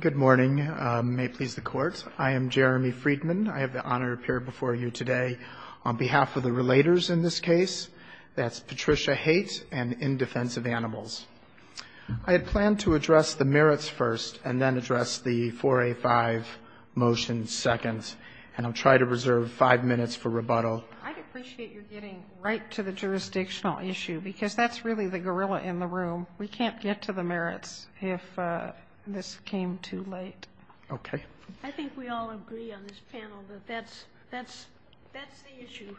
Good morning. May it please the Court. I am Jeremy Friedman. I have the honor to appear before you today on behalf of the Relators in this case. That's Patricia Haight and In Defense of Animals. I had planned to address the merits first and then address the 4A5 motion second. And I'll try to reserve five minutes for rebuttal. I'd appreciate your getting right to the jurisdictional issue because that's really the gorilla in the room. We can't get to the merits if this came too late. Okay. I think we all agree on this panel that that's the issue.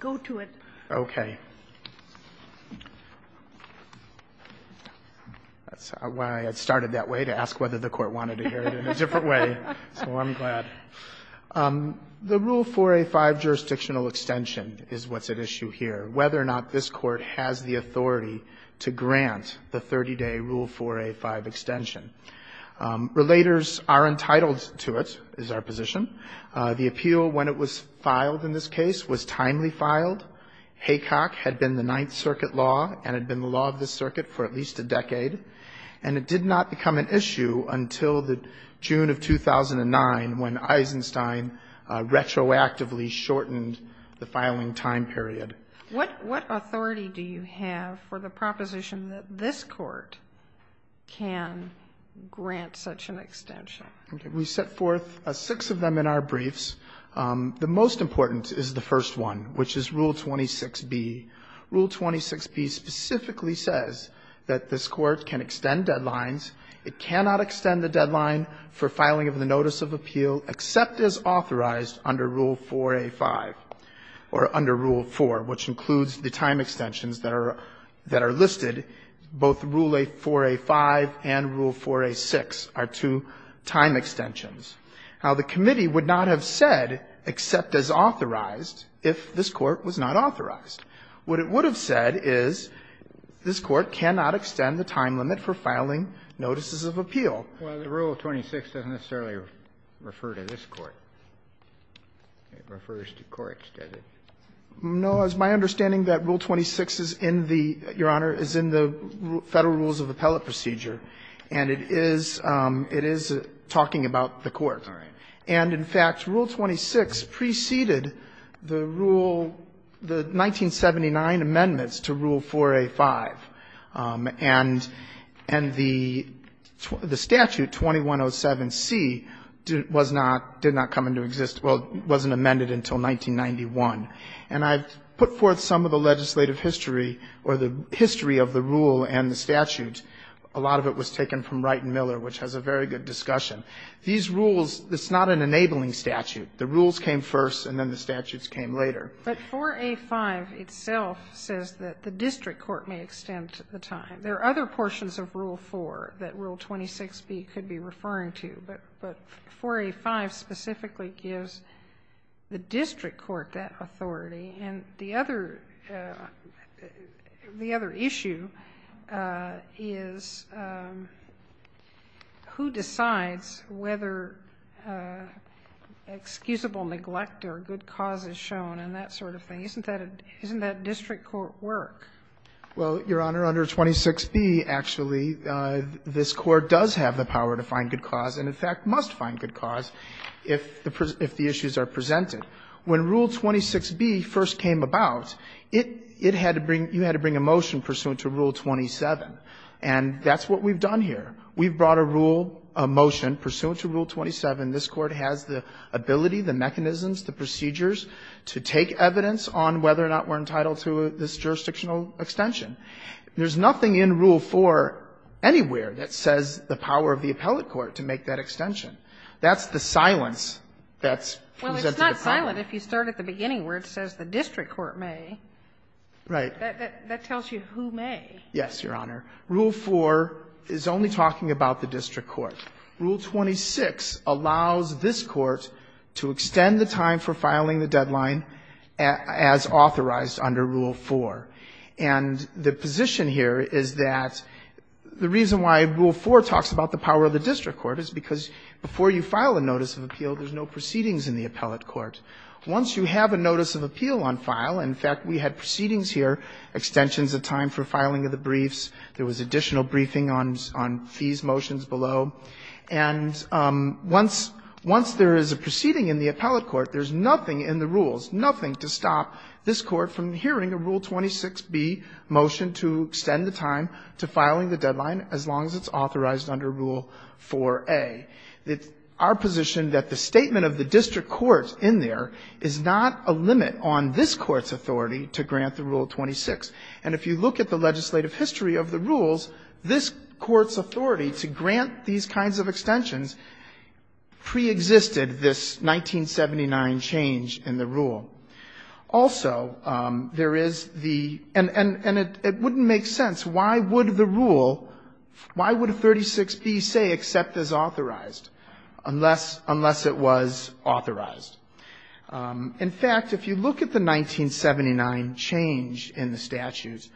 Go to it. Okay. That's why I started that way to ask whether the Court wanted to hear it in a different way. So I'm glad. The Rule 4A5 jurisdictional extension is what's at issue here, whether or not this Court has the authority to grant the 30-day Rule 4A5 extension. Relators are entitled to it, is our position. The appeal, when it was filed in this case, was timely filed. Haycock had been the Ninth Circuit law and had been the law of this circuit for at least a decade. And it did not become an issue until the June of 2009 when Eisenstein retroactively shortened the filing time period. What authority do you have for the proposition that this Court can grant such an extension? Okay. We set forth six of them in our briefs. The most important is the first one, which is Rule 26B. Rule 26B specifically says that this Court can extend deadlines. It cannot extend the deadline for filing of the notice of appeal except as authorized under Rule 4A5 or under Rule 4, which includes the time extensions that are listed. Both Rule 4A5 and Rule 4A6 are two time extensions. Now, the committee would not have said except as authorized if this Court was not authorized. What it would have said is this Court cannot extend the time limit for filing notices of appeal. Well, the Rule 26 doesn't necessarily refer to this Court. It refers to court-extended. No, it's my understanding that Rule 26 is in the, Your Honor, is in the Federal Rules of Appellate Procedure, and it is talking about the Court. And, in fact, Rule 26 preceded the Rule 1979 amendments to Rule 4A5. And the statute 2107C did not come into existence, well, wasn't amended until 1991. And I've put forth some of the legislative history or the history of the rule and the statute. A lot of it was taken from Wright and Miller, which has a very good discussion. These rules, it's not an enabling statute. The rules came first and then the statutes came later. But 4A5 itself says that the district court may extend the time. There are other portions of Rule 4 that Rule 26B could be referring to, but 4A5 specifically gives the district court that authority. And the other issue is who decides whether excusable neglect or good cause is shown and that sort of thing. Isn't that district court work? Well, Your Honor, under 26B, actually, this Court does have the power to find good cause if the issues are presented. When Rule 26B first came about, it had to bring you had to bring a motion pursuant to Rule 27. And that's what we've done here. We've brought a rule, a motion pursuant to Rule 27. This Court has the ability, the mechanisms, the procedures to take evidence on whether or not we're entitled to this jurisdictional extension. There's nothing in Rule 4 anywhere that says the power of the appellate court to make that extension. That's the silence that's presented to the public. Well, it's not silent if you start at the beginning where it says the district court may. Right. That tells you who may. Yes, Your Honor. Rule 4 is only talking about the district court. Rule 26 allows this Court to extend the time for filing the deadline as authorized under Rule 4. And the position here is that the reason why Rule 4 talks about the power of the district court is because before you file a notice of appeal, there's no proceedings in the appellate court. Once you have a notice of appeal on file, in fact, we had proceedings here, extensions of time for filing of the briefs, there was additional briefing on fees motions below, and once there is a proceeding in the appellate court, there's nothing in the rules, nothing to stop this Court from hearing a Rule 26b motion to extend the time to filing the deadline as long as it's authorized under Rule 4. Rule 4a, our position that the statement of the district court in there is not a limit on this Court's authority to grant the Rule 26, and if you look at the legislative history of the rules, this Court's authority to grant these kinds of extensions preexisted this 1979 change in the rule. Also, there is the — and it wouldn't make sense, why would the rule, why would Rule 26b say, except as authorized, unless it was authorized? In fact, if you look at the 1979 change in the statutes,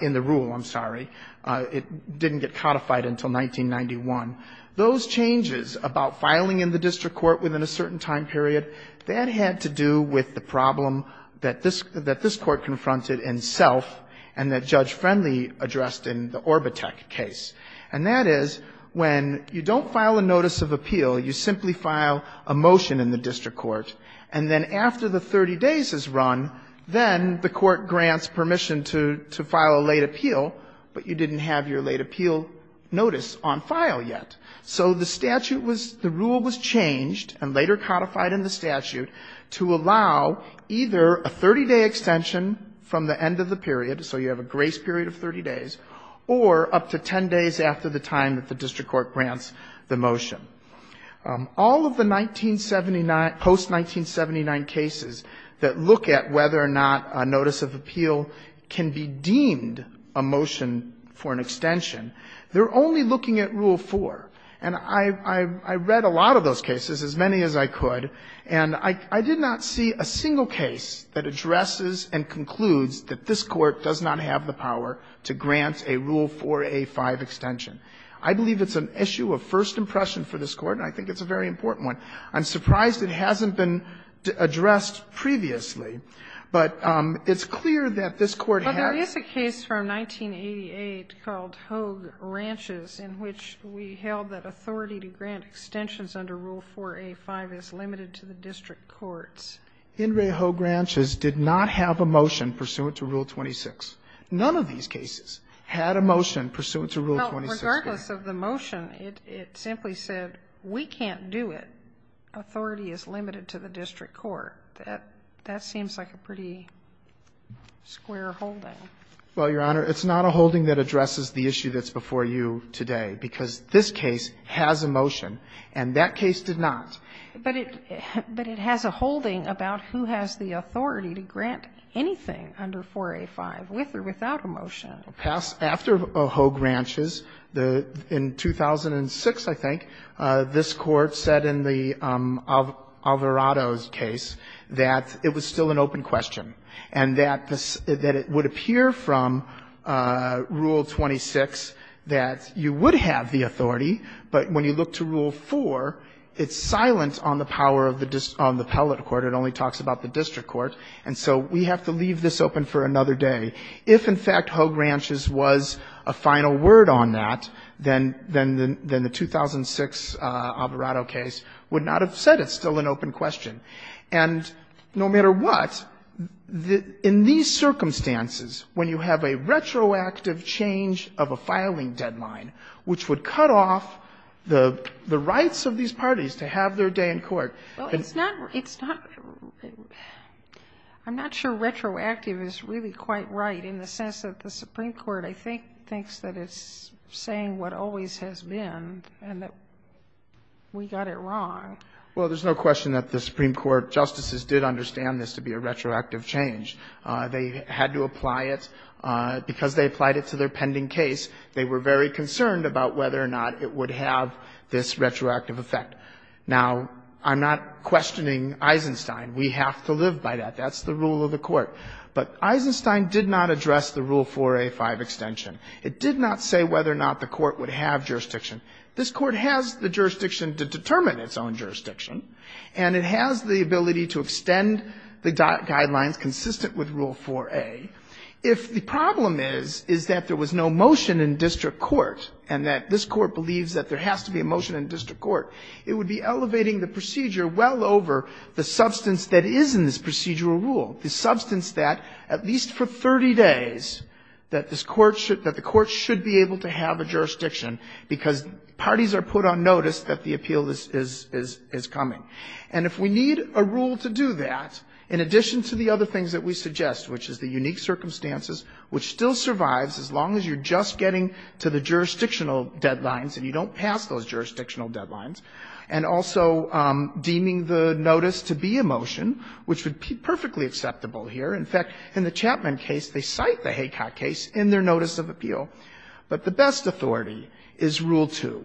in the rule, I'm sorry, it didn't get codified until 1991, those changes about filing in the district court within a certain time period, that had to do with the problem that this — that this Court confronted in Self and that Judge Friendly addressed in the Orbitek case, and that is, when you don't file a notice of appeal, you simply file a motion in the district court, and then after the 30 days is run, then the court grants permission to — to file a late appeal, but you didn't have your late appeal notice on file yet. So the statute was — the rule was changed, and later codified in the statute, to allow either a 30-day extension from the end of the period, so you have a grace period of 30 days, or up to 10 days after the time that the district court grants the motion. All of the 1979 — post-1979 cases that look at whether or not a notice of appeal can be deemed a motion for an extension, they're only looking at Rule 4. And I — I read a lot of those cases, as many as I could, and I did not see a single case that addresses and concludes that this Court does not have the power to grant a Rule 4a-5 extension. I believe it's an issue of first impression for this Court, and I think it's a very important one. I'm surprised it hasn't been addressed previously, but it's clear that this Court had to do that. In this case, in which we held that authority to grant extensions under Rule 4a-5 is limited to the district courts. In Reho Granches, did not have a motion pursuant to Rule 26. None of these cases had a motion pursuant to Rule 26. Well, regardless of the motion, it — it simply said we can't do it. Authority is limited to the district court. That — that seems like a pretty square holding. Well, Your Honor, it's not a holding that addresses the issue that's before you today, because this case has a motion, and that case did not. But it — but it has a holding about who has the authority to grant anything under 4a-5, with or without a motion. After Reho Granches, the — in 2006, I think, this Court said in the Alvarado's case that it was still an open question, and that — that it would appear from Rule 26 that you would have the authority, but when you look to Rule 4, it's silent on the power of the — on the appellate court. It only talks about the district court, and so we have to leave this open for another day. If, in fact, Reho Granches was a final word on that, then — then the 2006 Alvarado case would not have said it's still an open question. And no matter what, the — in these circumstances, when you have a retroactive change of a filing deadline, which would cut off the — the rights of these parties to have their day in court, and — Well, it's not — it's not — I'm not sure retroactive is really quite right in the sense that the Supreme Court, I think, thinks that it's saying what always has been, and that we got it wrong. Well, there's no question that the Supreme Court justices did understand this to be a retroactive change. They had to apply it. Because they applied it to their pending case, they were very concerned about whether or not it would have this retroactive effect. Now, I'm not questioning Eisenstein. We have to live by that. That's the rule of the Court. But Eisenstein did not address the Rule 4A5 extension. It did not say whether or not the Court would have jurisdiction. This Court has the jurisdiction to determine its own jurisdiction, and it has the ability to extend the guidelines consistent with Rule 4A. If the problem is, is that there was no motion in district court, and that this Court believes that there has to be a motion in district court, it would be elevating the procedure well over the substance that is in this procedural rule, the substance that, at least for 30 days, that this Court should — that the Court should be able to have a jurisdiction, because parties are put on notice that the appeal is — is coming. And if we need a rule to do that, in addition to the other things that we suggest, which is the unique circumstances, which still survives as long as you're just getting to the jurisdictional deadlines, and you don't pass those jurisdictional deadlines, and also deeming the notice to be a motion, which would be perfectly acceptable here. In fact, in the Chapman case, they cite the Haycock case in their notice of appeal. But the best authority is Rule 2.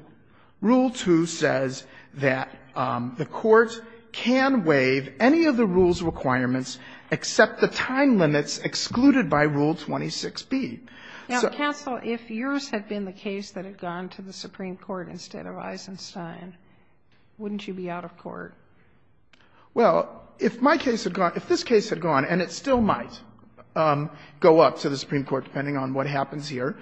Rule 2 says that the Court can waive any of the rules' requirements except the time limits excluded by Rule 26b. except the time limits excluded by Rule 26b. Sotomayor, if yours had been the case that had gone to the Supreme Court instead of Eisenstein, wouldn't you be out of court? Well, if my case had gone — if this case had gone, and it still might go up to the Supreme Court, depending on what happens here,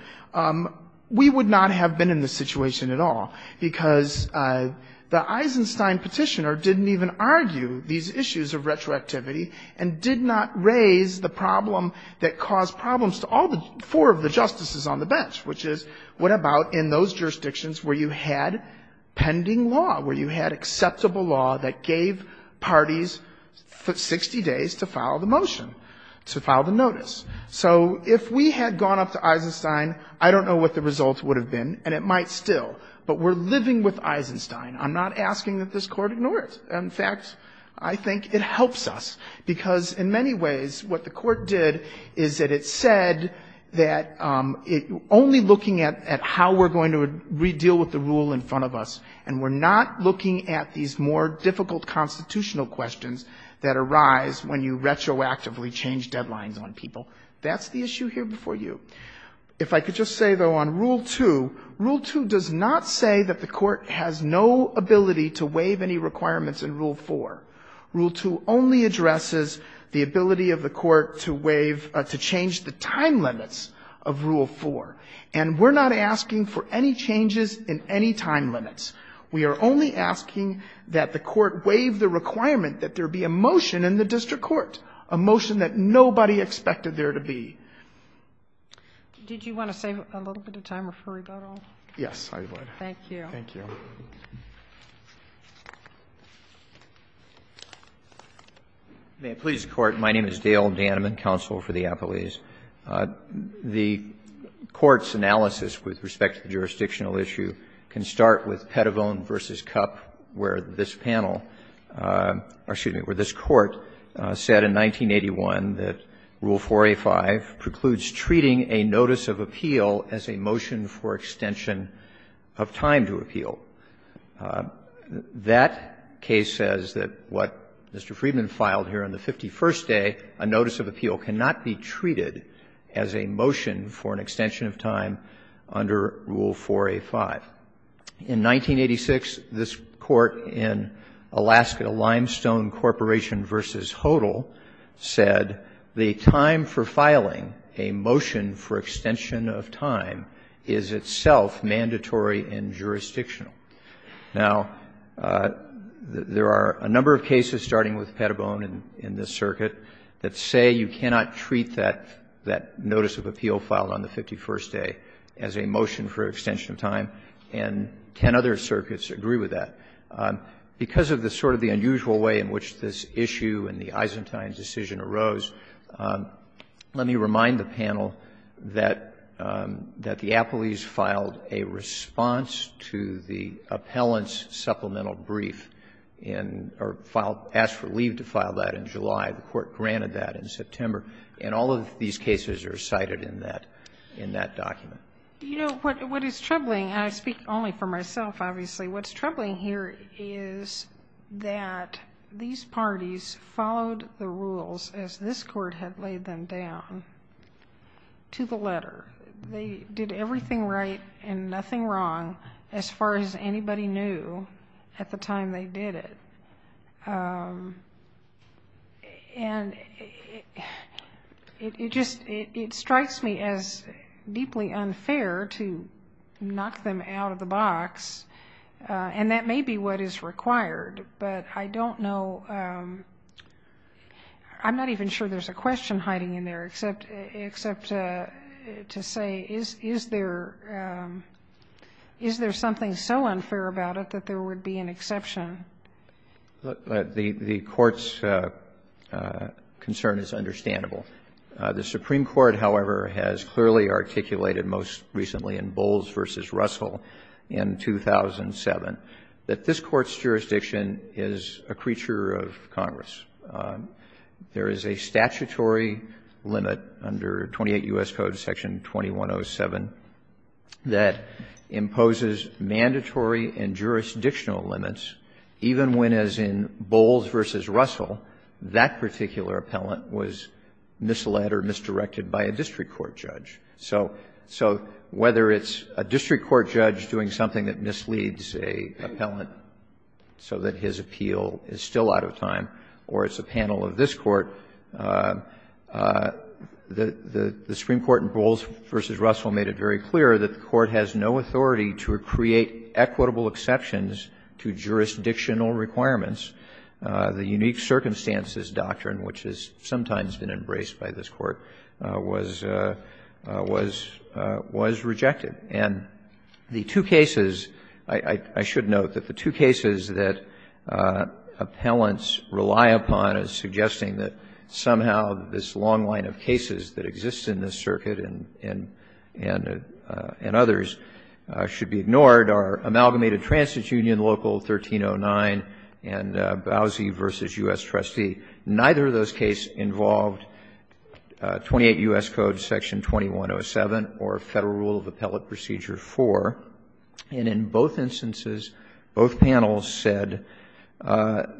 we would not have been in this situation at all, because the Eisenstein Petitioner didn't even argue these issues of retroactivity and did not raise the problem that caused problems to all the four of the justices on the bench, which is, what about in those jurisdictions where you had pending law, where you had acceptable law that gave parties 60 days to file the motion, to file the notice? So if we had gone up to Eisenstein, I don't know what the results would have been, and it might still. But we're living with Eisenstein. I'm not asking that this Court ignore it. In fact, I think it helps us, because in many ways what the Court did is that it said that only looking at how we're going to deal with the rule in front of us, and we're not looking at these more difficult constitutional questions that arise when you retroactively change deadlines on people. That's the issue here before you. If I could just say, though, on Rule 2, Rule 2 does not say that the Court has no ability to waive any requirements in Rule 4. Rule 2 only addresses the ability of the Court to waive, to change the time limits of Rule 4. And we're not asking for any changes in any time limits. We are only asking that the Court waive the requirement that there be a motion in the district court, a motion that nobody expected there to be. Did you want to save a little bit of time before we vote on it? Yes, I would. Thank you. Thank you. Daniel Daneman, counsel for the Appellees. The Court's analysis with respect to the jurisdictional issue can start with Pettivone v. Kup, where this panel or, excuse me, where this Court said in 1981 that Rule 4A5 precludes treating a notice of appeal as a motion for extension of time to appeal. That case says that what Mr. Friedman filed here on the 51st day, a notice of appeal cannot be treated as a motion for an extension of time under Rule 4A5. In 1986, this Court in Alaska Limestone Corporation v. Hodel said the time for filing a motion for extension of time is itself mandatory and jurisdictional. Now, there are a number of cases, starting with Pettivone in this circuit, that say you cannot treat that notice of appeal filed on the 51st day as a motion for extension of time, and ten other circuits agree with that. Because of the sort of the unusual way in which this issue and the Eisentain decision arose, let me remind the panel that the Appellees filed a response to the Appellant's supplemental brief in or filed or asked for leave to file that in July. The Court granted that in September. And all of these cases are cited in that document. You know, what is troubling, and I speak only for myself, obviously, what's troubling here is that these parties followed the rules as this Court had laid them down to the letter. They did everything right and nothing wrong, as far as anybody knew, at the time they did it. And it just, it strikes me as deeply unfair to knock them out of the box. And that may be what is required, but I don't know, I'm not even sure there's a reason to say, is there something so unfair about it that there would be an exception. The Court's concern is understandable. The Supreme Court, however, has clearly articulated most recently in Bowles v. Russell in 2007 that this Court's jurisdiction is a creature of Congress. There is a statutory limit under 28 U.S. Code section 2107 that imposes mandatory and jurisdictional limits, even when, as in Bowles v. Russell, that particular Appellant was misled or misdirected by a district court judge. So whether it's a district court judge doing something that misleads an Appellant so that his appeal is still out of time, or it's a panel of this Court, the Supreme Court in Bowles v. Russell made it very clear that the Court has no authority to create equitable exceptions to jurisdictional requirements. The unique circumstances doctrine, which has sometimes been embraced by this Court, was rejected. And the two cases, I should note that the two cases that Appellants rely upon as suggesting that somehow this long line of cases that exist in this circuit and others should be ignored are Amalgamated Transit Union Local 1309 and Bowles v. U.S. Trustee. Neither of those cases involved 28 U.S. Code section 2107 or Federal Rule of Appellate Procedure 4. And in both instances, both panels said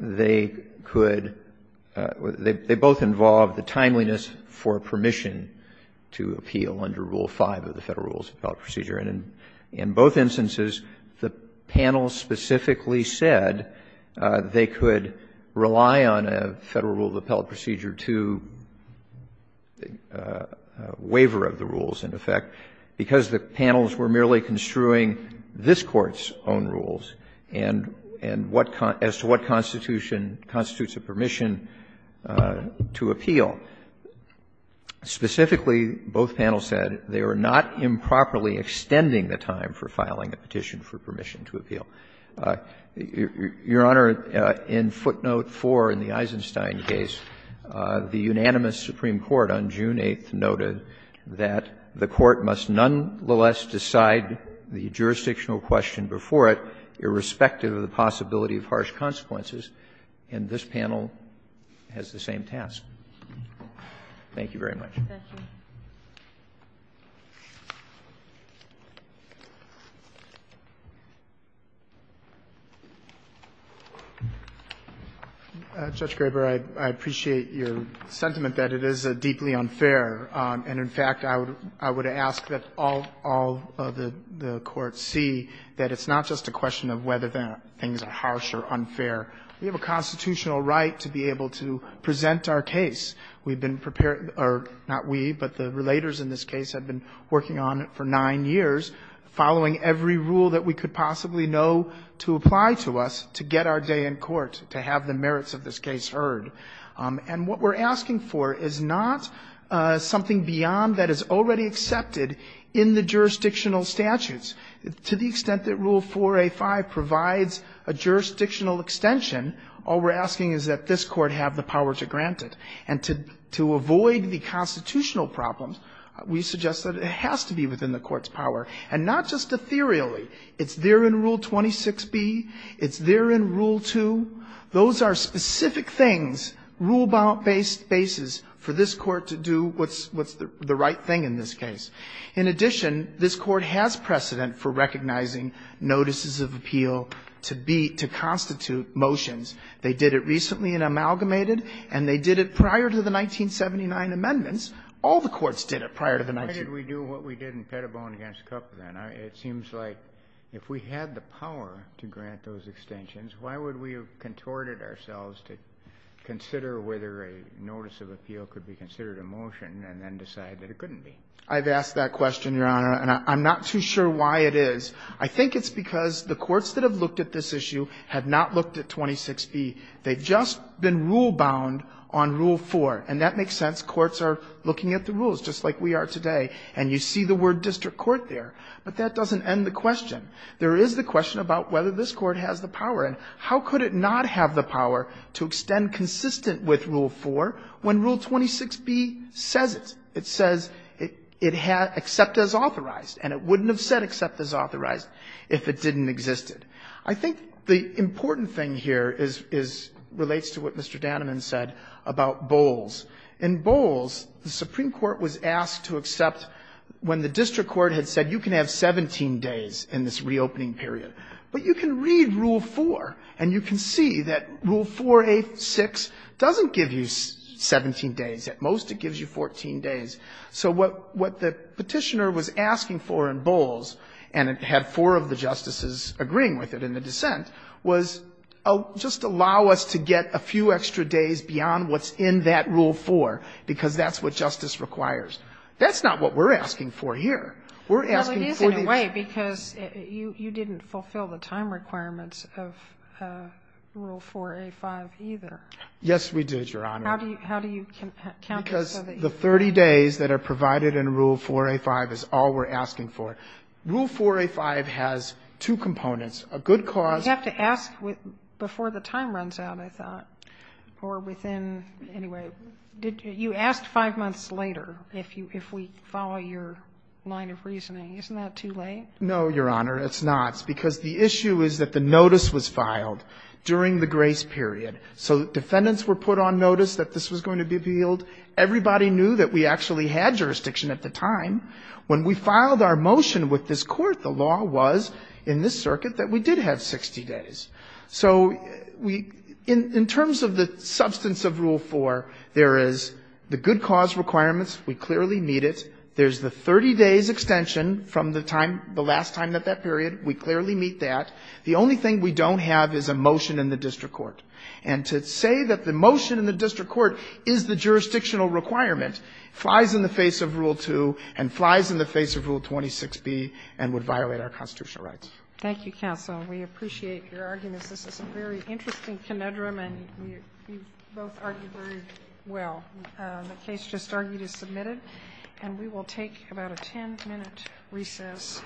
they could they both involved the timeliness for permission to appeal under Rule 5 of the Federal Rule of Appellate Procedure. And in both instances, the panel specifically said they could rely on a, you know, Federal Rule of Appellate Procedure 2 waiver of the rules, in effect, because the panels were merely construing this Court's own rules and what as to what constitution constitutes a permission to appeal. Specifically, both panels said they were not improperly extending the time for filing a petition for permission to appeal. Your Honor, in footnote 4 in the Eisenstein case, the unanimous Supreme Court on June 8th noted that the Court must nonetheless decide the jurisdictional question before it irrespective of the possibility of harsh consequences, and this panel has the same task. Thank you very much. Thank you. Roberts, I appreciate your sentiment that it is a deeply unfair, and in fact, I would ask that all of the courts see that it's not just a question of whether things are harsh or unfair. We have a constitutional right to be able to present our case. We've been prepared, or not we, but the relators in this case have been working on it for nine years, following every rule that we could possibly know to apply to us to get our day in court, to have the merits of this case heard. And what we're asking for is not something beyond that is already accepted in the jurisdictional statutes. To the extent that Rule 4a.5 provides a jurisdictional extension, all we're asking is that this Court have the power to grant it, and to avoid the constitutional problems, we suggest that it has to be within the Court's power, and not just ethereally. It's there in Rule 26b, it's there in Rule 2. Those are specific things, rule-based basis for this Court to do what's the right thing in this case. In addition, this Court has precedent for recognizing notices of appeal to constitute motions. They did it recently in Amalgamated, and they did it prior to the 1979 amendments. All the courts did it prior to the 19- Kennedy, why did we do what we did in Pettibone v. Kupfer then? It seems like if we had the power to grant those extensions, why would we have contorted ourselves to consider whether a notice of appeal could be considered a motion and then decide that it couldn't be? I've asked that question, Your Honor, and I'm not too sure why it is. I think it's because the courts that have looked at this issue have not looked at 26b. They've just been rule-bound on Rule 4, and that makes sense. Courts are looking at the rules, just like we are today, and you see the word district court there. But that doesn't end the question. There is the question about whether this Court has the power, and how could it not have the power to extend consistent with Rule 4 when Rule 26b says it? It says it has to accept as authorized, and it wouldn't have said accept as authorized if it didn't exist. I think the important thing here is relates to what Mr. Danneman said about Bowles. In Bowles, the Supreme Court was asked to accept when the district court had said you can have 17 days in this reopening period. But you can read Rule 4, and you can see that Rule 4a.6 doesn't give you 17 days. At most, it gives you 14 days. So what the Petitioner was asking for in Bowles, and it had four of the justices agreeing with it in the dissent, was just allow us to get a few extra days beyond what's in that Rule 4, because that's what justice requires. That's not what we're asking for here. We're asking for the other. Kagan. Well, it is in a way, because you didn't fulfill the time requirements of Rule 4a.5 either. Yes, we did, Your Honor. How do you count it so that you can see it? Because the 30 days that are provided in Rule 4a.5 is all we're asking for. Rule 4a.5 has two components. A good cause to ask before the time runs out, I thought, or within anyway, did you ask five months later if you if we follow your line of reasoning? Isn't that too late? No, Your Honor, it's not, because the issue is that the notice was filed during the grace period. So defendants were put on notice that this was going to be appealed. Everybody knew that we actually had jurisdiction at the time. When we filed our motion with this Court, the law was in this circuit that we did have 60 days. So we — in terms of the substance of Rule 4, there is the good cause requirements. We clearly meet it. There's the 30 days extension from the time — the last time at that period. We clearly meet that. The only thing we don't have is a motion in the district court. And to say that the motion in the district court is the jurisdictional requirement flies in the face of Rule 2 and flies in the face of Rule 26b and would violate our constitutional rights. Thank you, counsel. We appreciate your arguments. This is a very interesting conundrum, and you both argued very well. The case just argued is submitted, and we will take about a 10-minute recess.